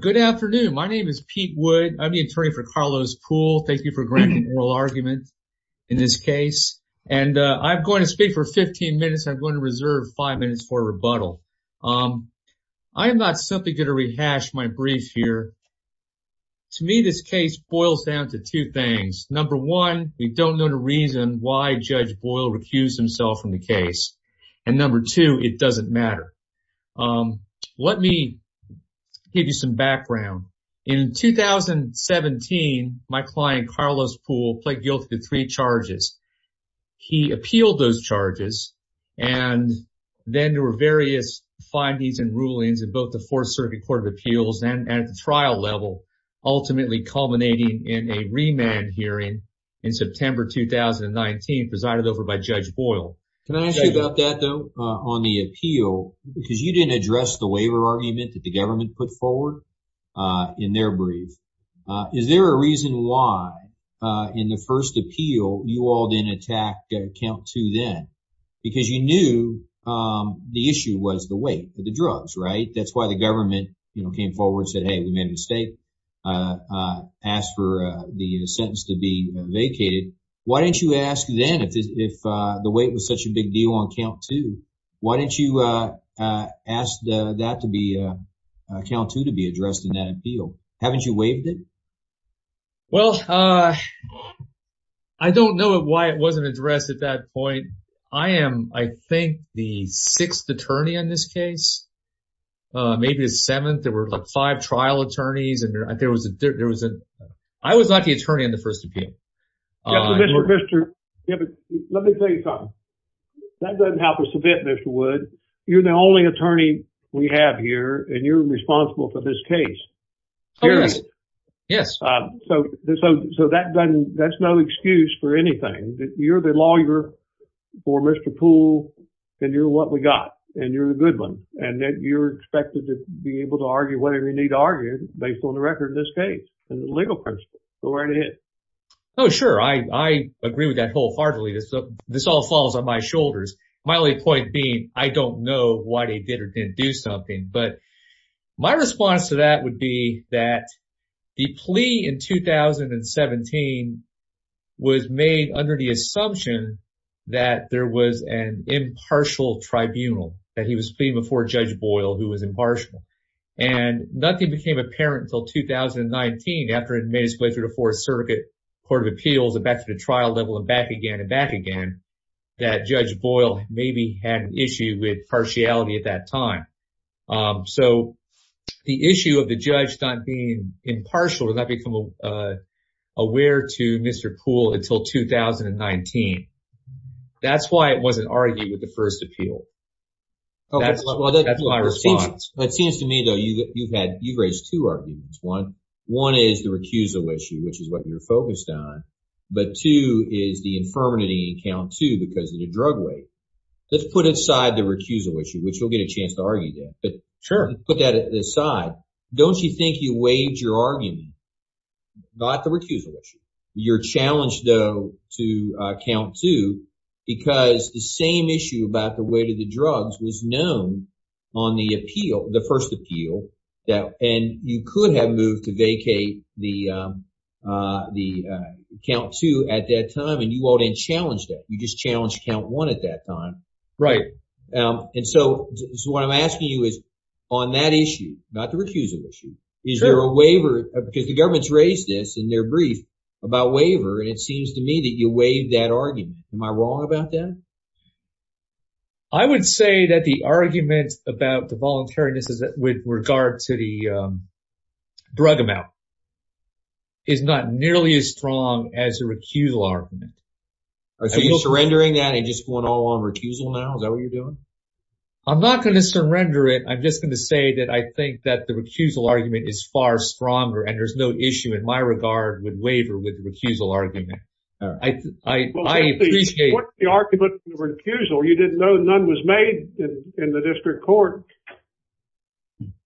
Good afternoon. My name is Pete Wood. I'm the attorney for Karlos Poole. Thank you for granting an oral argument in this case. And I'm going to speak for 15 minutes. I'm going to reserve five minutes for a rebuttal. I'm not simply going to rehash my brief here. To me, this case boils down to two things. Number one, we don't know the reason why Judge Boyle recused himself from the case. And number two, it doesn't matter. Let me give you some background. In 2017, my client, Karlos Poole, pled guilty to three charges. He appealed those charges, and then there were various findings and rulings in both the Fourth Circuit Court of Appeals and at the trial level, ultimately culminating in a remand hearing in September 2019, presided over by Judge Boyle. Can I ask you about that, though, on the appeal, because you didn't address the waiver argument that the government put forward in their brief. Is there a reason why in the first appeal you all didn't attack count two then? Because you knew the issue was the weight of the drugs, right? That's why the government came forward, said, hey, we made a mistake, asked for the sentence to be vacated. Why didn't you ask then, if the weight was such a big deal on count two, why didn't you ask count two to be addressed in that appeal? Haven't you waived it? Well, I don't know why it wasn't addressed at that point. I am, I think, the sixth attorney on this case, maybe the seventh. There were five trial attorneys. I was not the attorney on the first appeal. Let me tell you something, that doesn't help us a bit, Mr. Wood, you're the only attorney we have here, and you're responsible for this case. Yes. So that's no excuse for anything. You're the lawyer for Mr. Poole, and you're what we got, and you're the good one. And you're expected to be able to argue whatever you need to argue based on the record in this case, in the legal principle, go right ahead. Oh, sure. I agree with that wholeheartedly. This all falls on my shoulders. My only point being, I don't know why they did or didn't do something. But my response to that would be that the plea in 2017 was made under the assumption that there was an impartial tribunal, that he was pleading before Judge Boyle, who was impartial. And nothing became apparent until 2019, after it made its way through the Fourth Circuit Court of Appeals, and back to the trial level, and back again, and back again, that Judge Boyle maybe had an issue with partiality at that time. So the issue of the judge not being impartial did not become aware to Mr. Poole until 2019. That's why it wasn't argued with the first appeal. That's my response. It seems to me, though, you've raised two arguments. One is the recusal issue, which is what you're focused on. But two is the infirmity in count two because of the drug weight. Let's put aside the recusal issue, which you'll get a chance to argue there. But put that aside. Don't you think you waived your argument about the recusal issue? You're challenged, though, to count two because the same issue about the weight of the drugs was known on the appeal, the first appeal. And you could have moved to vacate the count two at that time. And you all didn't challenge that. You just challenged count one at that time. Right. And so what I'm asking you is, on that issue, not the recusal issue, is there a waiver? Because the government's raised this in their brief about waiver. And it seems to me that you waived that argument. Am I wrong about that? I would say that the argument about the voluntariness with regard to the drug amount is not nearly as strong as a recusal argument. Are you surrendering that and just going all on recusal now? Is that what you're doing? I'm not going to surrender it. I'm just going to say that I think that the recusal argument is far stronger and there's no issue in my regard with waiver with the recusal argument. I appreciate it. What's the argument for the recusal? You didn't know none was made in the district court.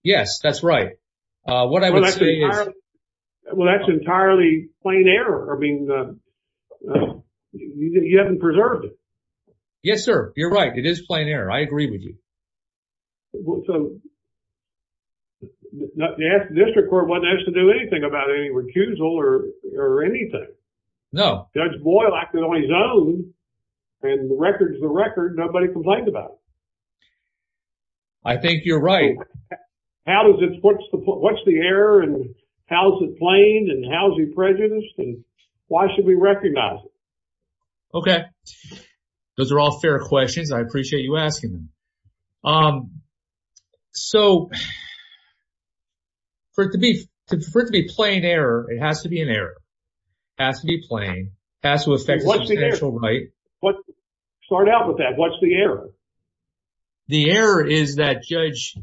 Yes, that's right. What I would say is. Well, that's entirely plain error. I mean, you haven't preserved it. Yes, sir. You're right. It is plain error. I agree with you. So the district court wasn't asked to do anything about any recusal or anything. No. Judge Boyle acted on his own and the record's the record. Nobody complained about it. I think you're right. What's the error and how's it plain and how's he prejudiced and why should we recognize it? Okay. Those are all fair questions. I appreciate you asking. So for it to be plain error, it has to be an error. It has to be plain. It has to affect the confidential right. Start out with that. What's the error? The error is that Judge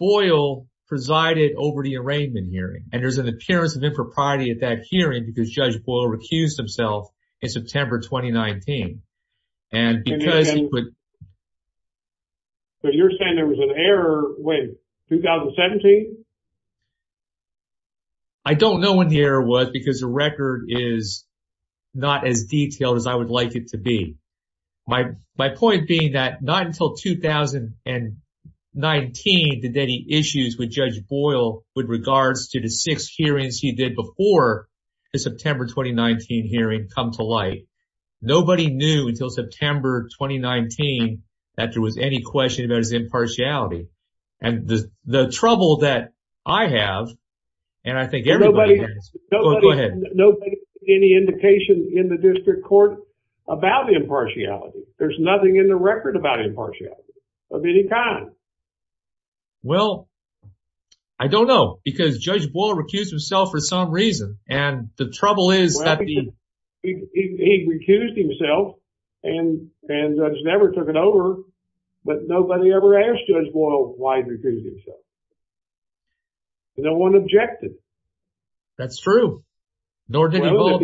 Boyle presided over the arraignment hearing and there's an appearance of impropriety at that hearing because Judge Boyle recused himself in September 2019. And because he could. So you're saying there was an error in 2017? I don't know when the error was because the record is not as detailed as I would like it to be. My point being that not until 2019 did any issues with Judge Boyle with regards to the six hearings he did before the September 2019 hearing come to light. Nobody knew until September 2019 that there was any question about his impartiality. And the trouble that I have, and I think everybody has, go ahead. Nobody has any indication in the district court about impartiality. There's nothing in the record about impartiality of any kind. Well, I don't know because Judge Boyle recused himself for some reason. And the trouble is that the- He recused himself and Judge Never took it over. But nobody ever asked Judge Boyle why he recused himself. No one objected. That's true. Nor did he vote.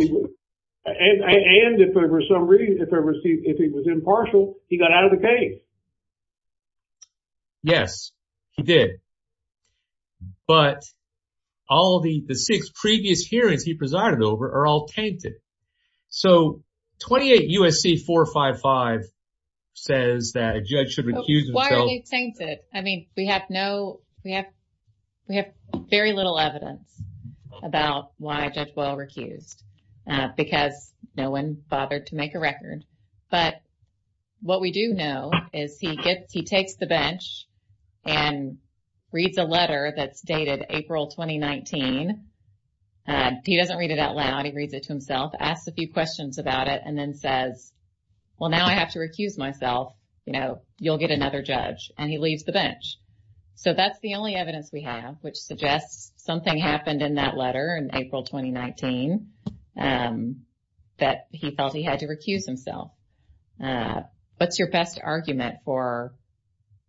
And if for some reason, if he was impartial, he got out of the case. Yes, he did. But all the six previous hearings he presided over are all tainted. So 28 U.S.C. 455 says that a judge should recuse himself. Why are they tainted? I mean, we have no, we have very little evidence about why Judge Boyle recused because no one bothered to make a record. But what we do know is he gets, he takes the bench and reads a letter that's dated April 2019. He doesn't read it out loud. He reads it to himself, asks a few questions about it and then says, well, now I have to recuse myself. You know, you'll get another judge. And he leaves the bench. So that's the only evidence we have, which suggests something happened in that letter in April 2019 that he felt he had to recuse himself. What's your best argument for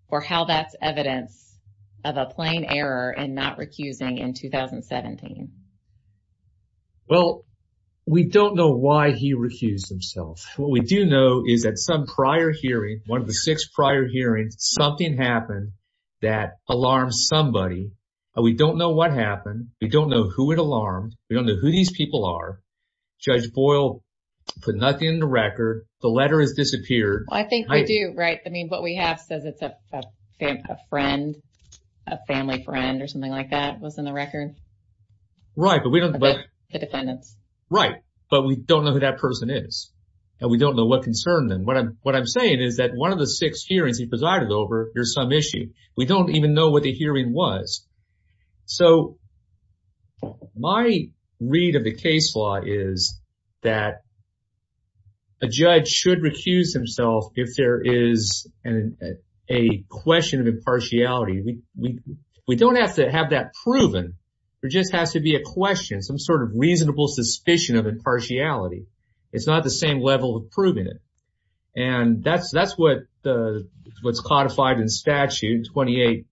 or how that's evidence of a plain error and not recusing in 2017? Well, we don't know why he recused himself. What we do know is that some prior hearing, one of the six prior hearings, something happened that alarmed somebody. We don't know what happened. We don't know who it alarmed. We don't know who these people are. Judge Boyle put nothing in the record. The letter has disappeared. I think we do, right? I mean, what we have says it's a friend, a family friend or something like that was in the record. Right, but we don't know who that person is and we don't know what concerned them. What I'm saying is that one of the six hearings he presided over, there's some issue. We don't even know what the hearing was. So my read of the case law is that a judge should recuse himself if there is a question of impartiality. We don't have to have that proven. There just has to be a question, some sort of reasonable suspicion of impartiality. It's not the same level of proving it. And that's what's codified in statute 28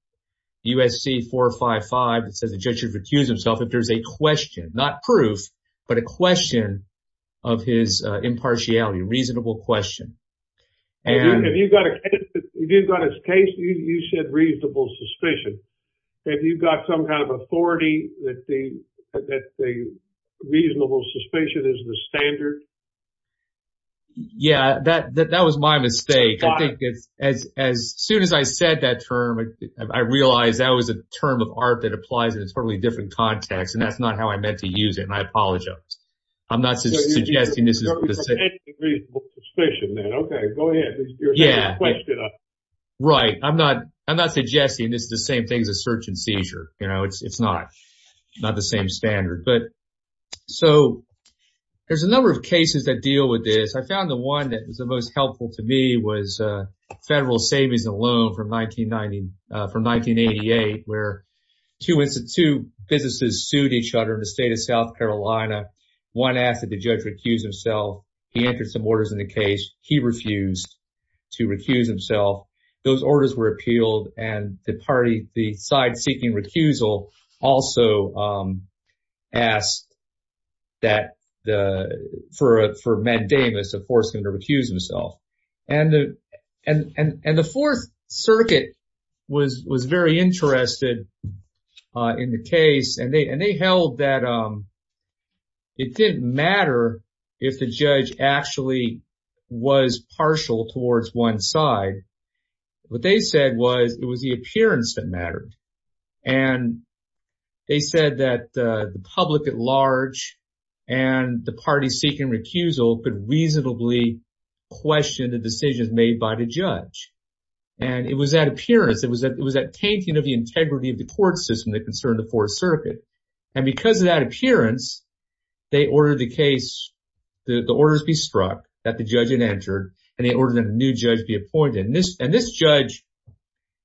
U.S.C. 455. It says the judge should recuse himself if there's a question, not proof, but a question of his impartiality, reasonable question. And if you've got a case, you said reasonable suspicion. Have you got some kind of authority that the reasonable suspicion is the standard? Yeah, that was my mistake. I think it's as soon as I said that term, I realized that was a term of art that applies in a totally different context. And that's not how I meant to use it. I apologize. I'm not suggesting this is a reasonable suspicion. OK, go ahead. Yeah, right. I'm not I'm not suggesting this is the same thing as a search and seizure. You know, it's not not the same standard. But so there's a number of cases that deal with this. I found the one that was the most helpful to me was federal savings and loan from 1990, from 1988, where two businesses sued each other in the state of South Carolina. One asked that the judge recuse himself. He entered some orders in the case. He refused to recuse himself. Those orders were appealed. And the party, the side seeking recusal, also asked that the for for mandamus of forcing to recuse himself. And the and the Fourth Circuit was was very interested in the case. And they and they held that it didn't matter if the judge actually was partial towards one side. What they said was it was the appearance that mattered. And they said that the public at large and the party seeking recusal could reasonably question the decisions made by the judge. And it was that appearance. It was that it was that painting of the integrity of the court system that concerned the Fourth Circuit. And because of that appearance, they ordered the case, the orders be struck, that the judge had entered and they ordered a new judge be appointed. And this and this judge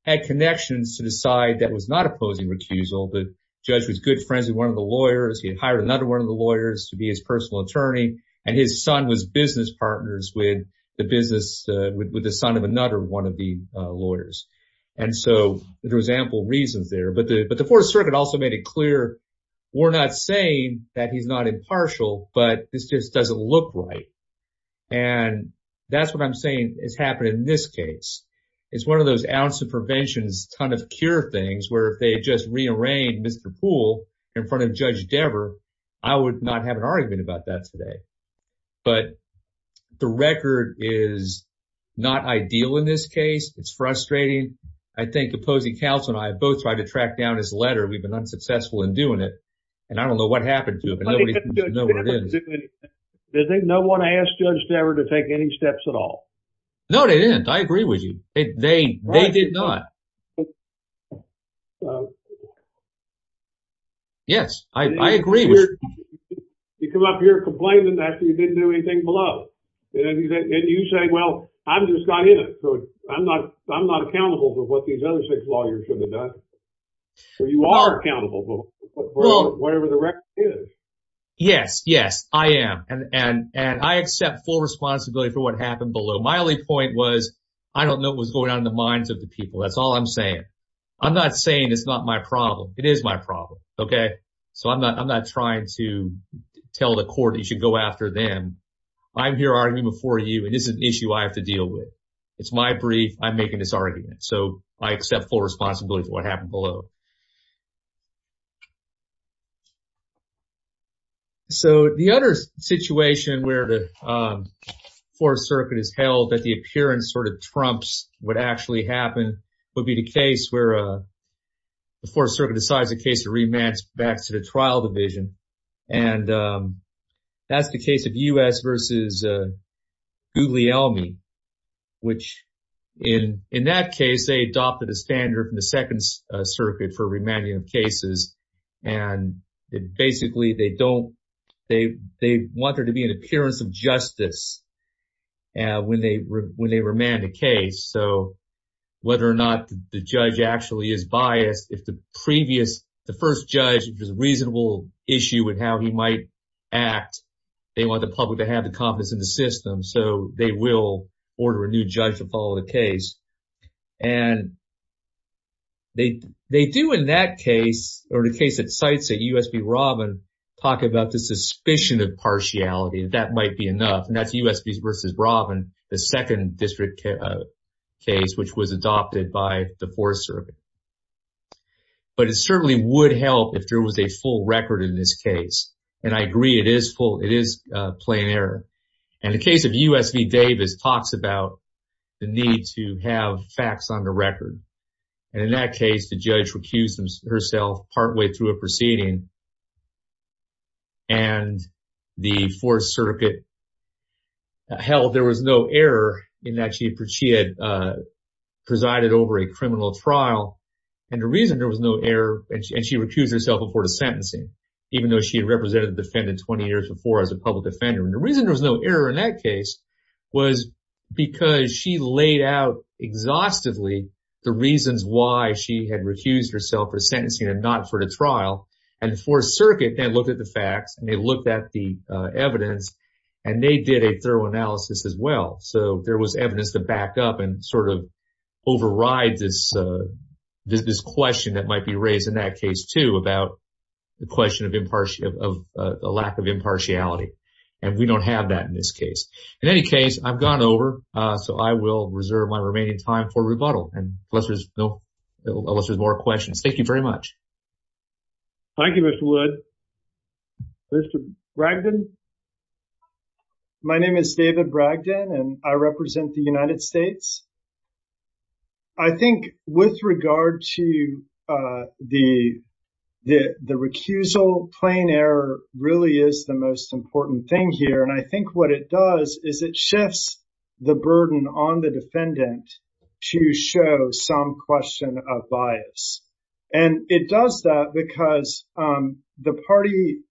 had connections to the side that was not opposing recusal. The judge was good friends with one of the lawyers. He had hired another one of the lawyers to be his personal attorney. And his son was business partners with the business with the son of another one of the lawyers. And so there was ample reasons there. But but the Fourth Circuit also made it clear, we're not saying that he's not impartial, but this just doesn't look right. And that's what I'm saying has happened in this case. It's one of those ounce of prevention, ton of cure things where if they just rearranged Mr. Poole in front of Judge Devere, I would not have an argument about that today. But the record is not ideal in this case. It's frustrating. I think opposing counsel and I both tried to track down his letter. We've been unsuccessful in doing it. And I don't know what happened to him. Does no one ask Judge Devere to take any steps at all? No, they didn't. I agree with you. They did not. Yes, I agree. You come up here complaining that you didn't do anything below and you say, well, I'm just not in it. So I'm not I'm not accountable for what these other six lawyers have done. So you are accountable for whatever the record is. Yes, yes, I am. And and I accept full responsibility for what happened below. My only point was, I don't know what's going on in the minds of the people. That's all I'm saying. I'm not saying it's not my problem. It is my problem. OK, so I'm not I'm not trying to tell the court you should go after them. I'm here arguing before you. It is an issue I have to deal with. It's my brief. I'm making this argument. So I accept full responsibility for what happened below. So the other situation where the Fourth Circuit has held that the appearance sort of trumps what actually happened would be the case where the Fourth Circuit decides the case to rematch back to the trial division. And that's the case of U.S. versus Guglielmi, which in in that case, they adopted a standard from the Second Circuit for remanding of cases. And basically, they don't they they want there to be an appearance of justice when they when they remand a case. So whether or not the judge actually is biased, if the previous the first judge was a issue with how he might act, they want the public to have the confidence in the system. So they will order a new judge to follow the case. And they they do in that case or the case that cites that U.S. v. Robin talk about the suspicion of partiality. That might be enough. And that's U.S. versus Robin, the second district case, which was adopted by the Fourth Circuit. But it certainly would help if there was a full record in this case. And I agree it is full. It is a plain error. And the case of U.S. v. Davis talks about the need to have facts on the record. And in that case, the judge recused herself partway through a proceeding. And the Fourth Circuit held there was no error in that she had presided over a And the reason there was no error and she recused herself before the sentencing, even though she had represented the defendant 20 years before as a public defender. And the reason there was no error in that case was because she laid out exhaustively the reasons why she had recused herself for sentencing and not for the trial. And the Fourth Circuit then looked at the facts and they looked at the evidence and they did a thorough analysis as well. So there was evidence to back up and sort of override this question that might be raised in that case, too, about the question of a lack of impartiality. And we don't have that in this case. In any case, I've gone over. So I will reserve my remaining time for rebuttal unless there's more questions. Thank you very much. Thank you, Mr. Wood. Mr. Bragdon? My name is David Bragdon, and I represent the United States. I think with regard to the the recusal, plain error really is the most important thing here, and I think what it does is it shifts the burden on the defendant to show some question of bias. And it does that because the party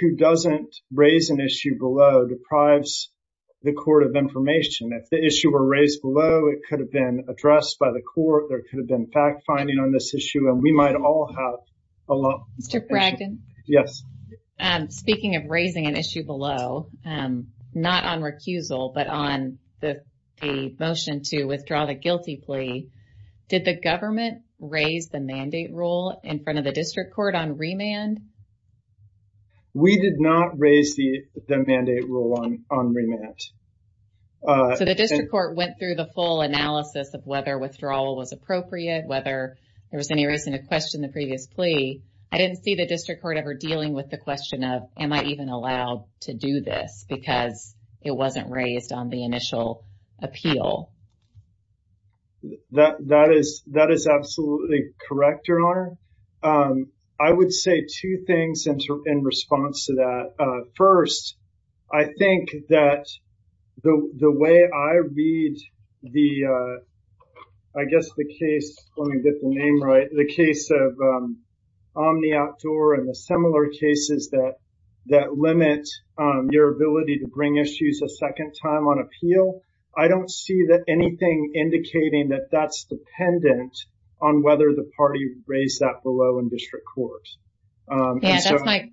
who doesn't raise an issue below deprives the court of information. If the issue were raised below, it could have been addressed by the court. There could have been fact finding on this issue. And we might all have a lot. Mr. Bragdon? Yes. Speaking of raising an issue below, not on recusal, but on the motion to withdraw the guilty plea, did the government raise the mandate rule in front of the district court on remand? We did not raise the mandate rule on remand. So the district court went through the full analysis of whether withdrawal was appropriate, whether there was any reason to question the previous plea. I didn't see the district court ever dealing with the question of, am I even allowed to do this because it wasn't raised on the initial appeal? That is absolutely correct, Your Honor. I would say two things in response to that. First, I think that the way I read the, I guess the case, let me get the name right, the case of Omni Outdoor and the similar cases that limit your ability to bring issues a second time on appeal. I don't see that anything indicating that that's dependent on whether the party raised that below in district court. Yeah, that's my,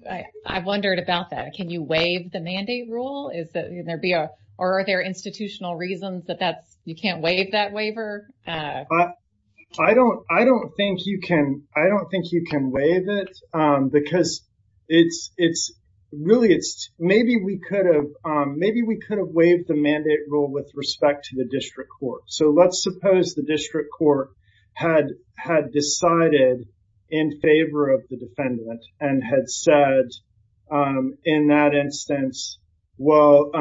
I've wondered about that. Can you waive the mandate rule? Is there, or are there institutional reasons that you can't waive that waiver? I don't, I don't think you can, I don't think you can waive it because it's, it's really, it's maybe we could have, maybe we could have waived the mandate rule with respect to the district court. So let's suppose the district court had, had decided in favor of the defendant and had said in that instance, well,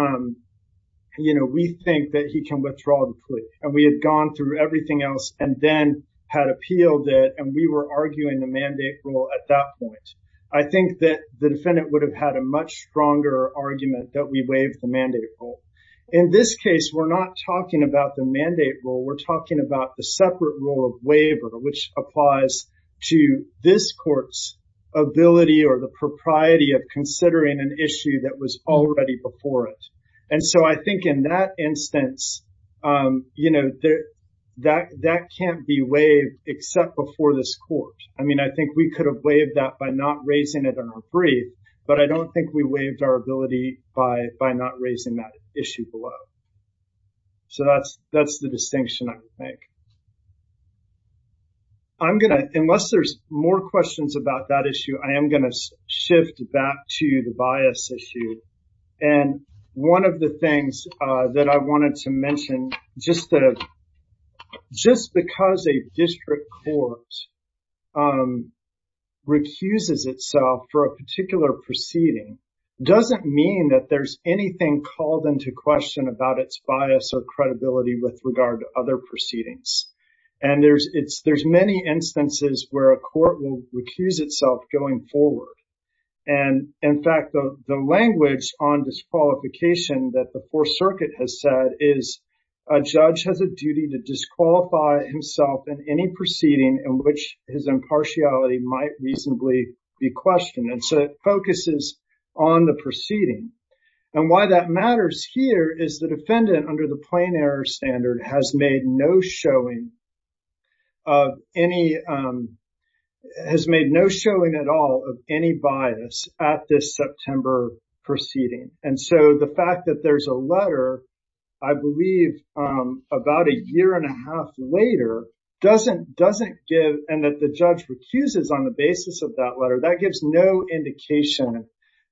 you know, we think that he can withdraw the plea and we had gone through everything else and then had appealed it and we were arguing the mandate rule at that point. I think that the defendant would have had a much stronger argument that we waived the mandate rule. In this case, we're not talking about the mandate rule. We're talking about the separate rule of waiver, which applies to this court's ability or the propriety of considering an issue that was already before it. And so I think in that instance, you know, that, that can't be waived except before this court. I mean, I think we could have waived that by not raising it on our brief, but I don't think we waived our ability by, by not raising that. Issue below. So that's, that's the distinction I would make. I'm going to, unless there's more questions about that issue, I am going to shift back to the bias issue. And one of the things that I wanted to mention, just because a district court recuses itself for a particular proceeding doesn't mean that there's anything called into question about its bias or credibility with regard to other proceedings. And there's, it's, there's many instances where a court will recuse itself going forward. And in fact, the language on disqualification that the Fourth Circuit has said is a judge has a duty to disqualify himself in any proceeding in which his impartiality might reasonably be questioned. And so it focuses on the proceeding. And why that matters here is the defendant, under the plain error standard, has made no showing of any, has made no showing at all of any bias at this September proceeding. And so the fact that there's a letter, I believe, about a year and a half later, doesn't, doesn't give, and that the judge recuses on the basis of that letter, that gives no indication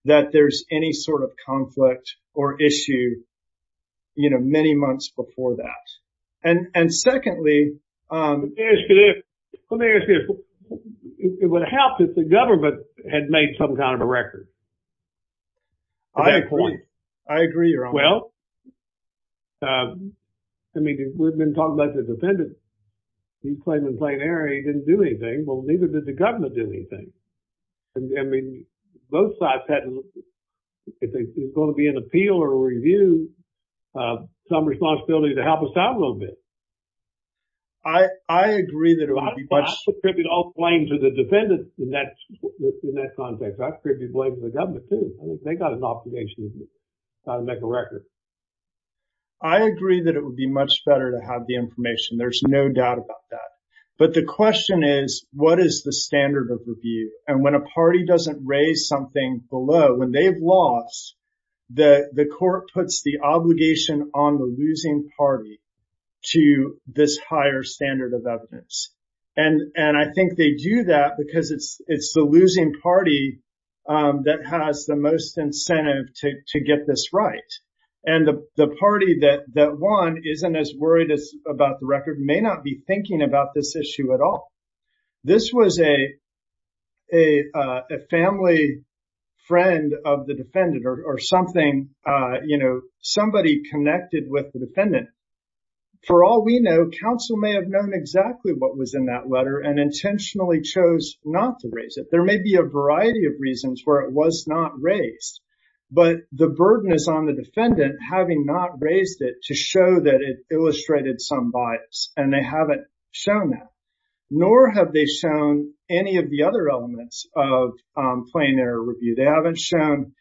that there's any sort of conflict or issue, you know, many months before that. And, and secondly, Let me ask you this, would it have helped if the government had made some kind of a record? I agree. Well, I mean, we've been talking about the defendant, he's claiming plain error, he didn't do anything. Well, neither did the government do anything. I mean, both sides had, if there's going to be an appeal or a review, some responsibility to help us out a little bit. I agree that it would be much better to have the information. There's no doubt about that. But the question is, what is the standard of review? And when a party doesn't raise something below, when they've lost, the court puts the obligation on the losing party to, this higher standard of evidence. And, and I think they do that because it's, it's the losing party that has the most incentive to get this right. And the party that won isn't as worried about the record, may not be thinking about this issue at all. This was a, a family friend of the defendant or something, you know, somebody connected with the defendant. For all we know, counsel may have known exactly what was in that letter and intentionally chose not to raise it. There may be a variety of reasons where it was not raised. But the burden is on the defendant having not raised it to show that it illustrated some bias. And they haven't shown that. Nor have they shown any of the other elements of plain error review. They haven't shown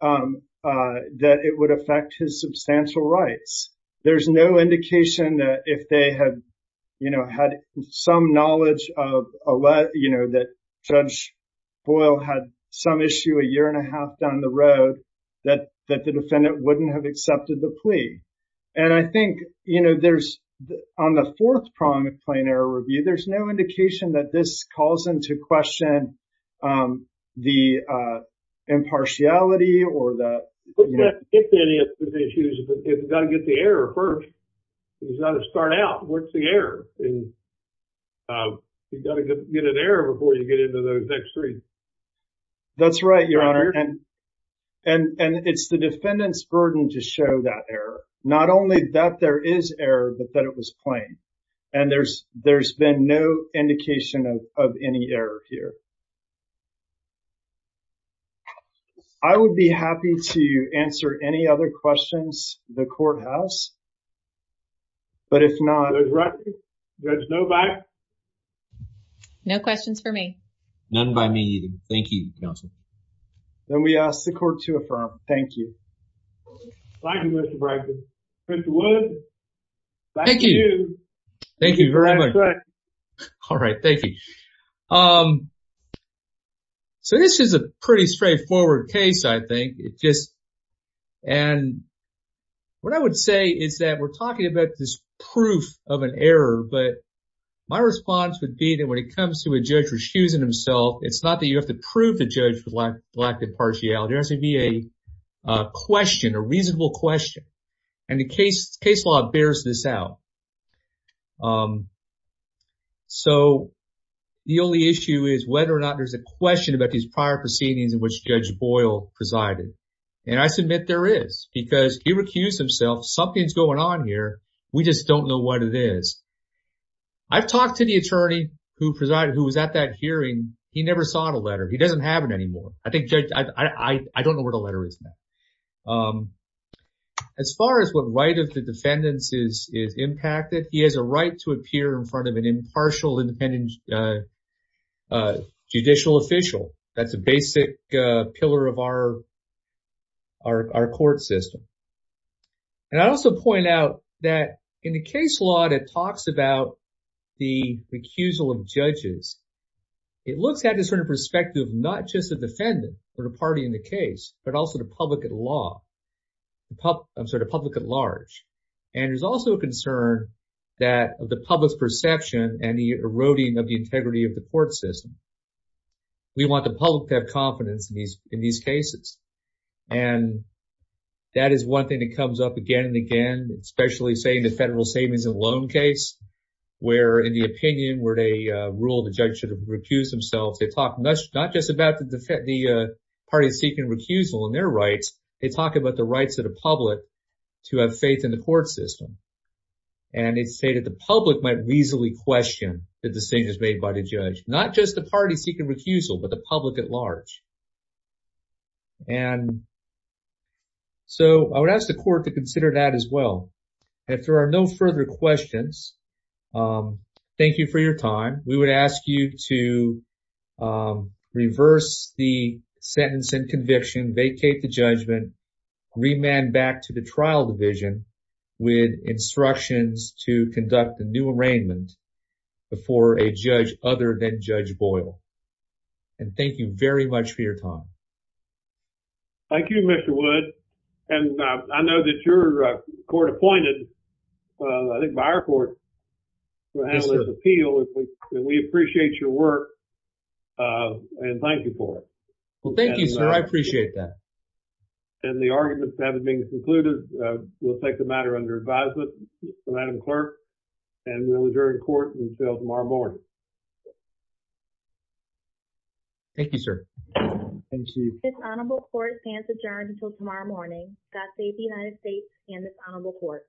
that it would affect his substantial rights. There's no indication that if they had, you know, had some knowledge of, you know, that Judge Boyle had some issue a year and a half down the road, that, that the defendant wouldn't have accepted the plea. And I think, you know, there's on the fourth prong of plain error review, there's no indication that this calls into question the impartiality or the. It's got to get the error first. It's got to start out. What's the error? You've got to get an error before you get into those next three. That's right, Your Honor. And it's the defendant's burden to show that error. Not only that there is error, but that it was plain. And there's, there's been no indication of any error here. I would be happy to answer any other questions the courthouse. But if not, there's no bias. No questions for me. None by me either. Thank you, counsel. Then we ask the court to affirm. Thank you. Thank you, Mr. Bragdon. Mr. Wood. Thank you. Thank you very much. All right. Thank you. So this is a pretty straightforward case, I think. It just, and what I would say is that we're talking about this proof of an error. But my response would be that when it comes to a judge refusing himself, it's not that you have to prove the judge for lack of impartiality, it has to be a question, a reasonable question. And the case law bears this out. So the only issue is whether or not there's a question about these prior proceedings in which Judge Boyle presided. And I submit there is, because he recused himself. Something's going on here. We just don't know what it is. I've talked to the attorney who presided, who was at that hearing. He never saw the letter. He doesn't have it anymore. I think, Judge, I don't know where the letter is now. But as far as what right of the defendants is impacted, he has a right to appear in front of an impartial independent judicial official. That's a basic pillar of our court system. And I also point out that in the case law that talks about the recusal of judges, it looks at this from the perspective of not just the defendant or the party in the case, but also the public at law. I'm sorry, the public at large. And there's also a concern that the public's perception and the eroding of the integrity of the court system. We want the public to have confidence in these cases. And that is one thing that comes up again and again, especially, say, in the federal savings and loan case, where in the opinion where they rule the judge should have recused himself. They talk not just about the party seeking recusal and their rights. They talk about the rights of the public to have faith in the court system. And they say that the public might reasonably question the decisions made by the judge, not just the party seeking recusal, but the public at large. And so I would ask the court to consider that as well. If there are no further questions, thank you for your time. We would ask you to reverse the sentence and conviction, vacate the judgment, remand back to the trial division with instructions to conduct a new arraignment before a judge other than Judge Boyle. And thank you very much for your time. Thank you, Mr. Wood. And I know that you're court appointed, I think, by our court to handle this appeal. And we appreciate your work and thank you for it. Well, thank you, sir. I appreciate that. And the argument to have it being concluded, we'll take the matter under advisement from Madam Clerk and we'll adjourn court until tomorrow morning. Thank you, sir. Thank you. This honorable court stands adjourned until tomorrow morning. God save the United States and this honorable court.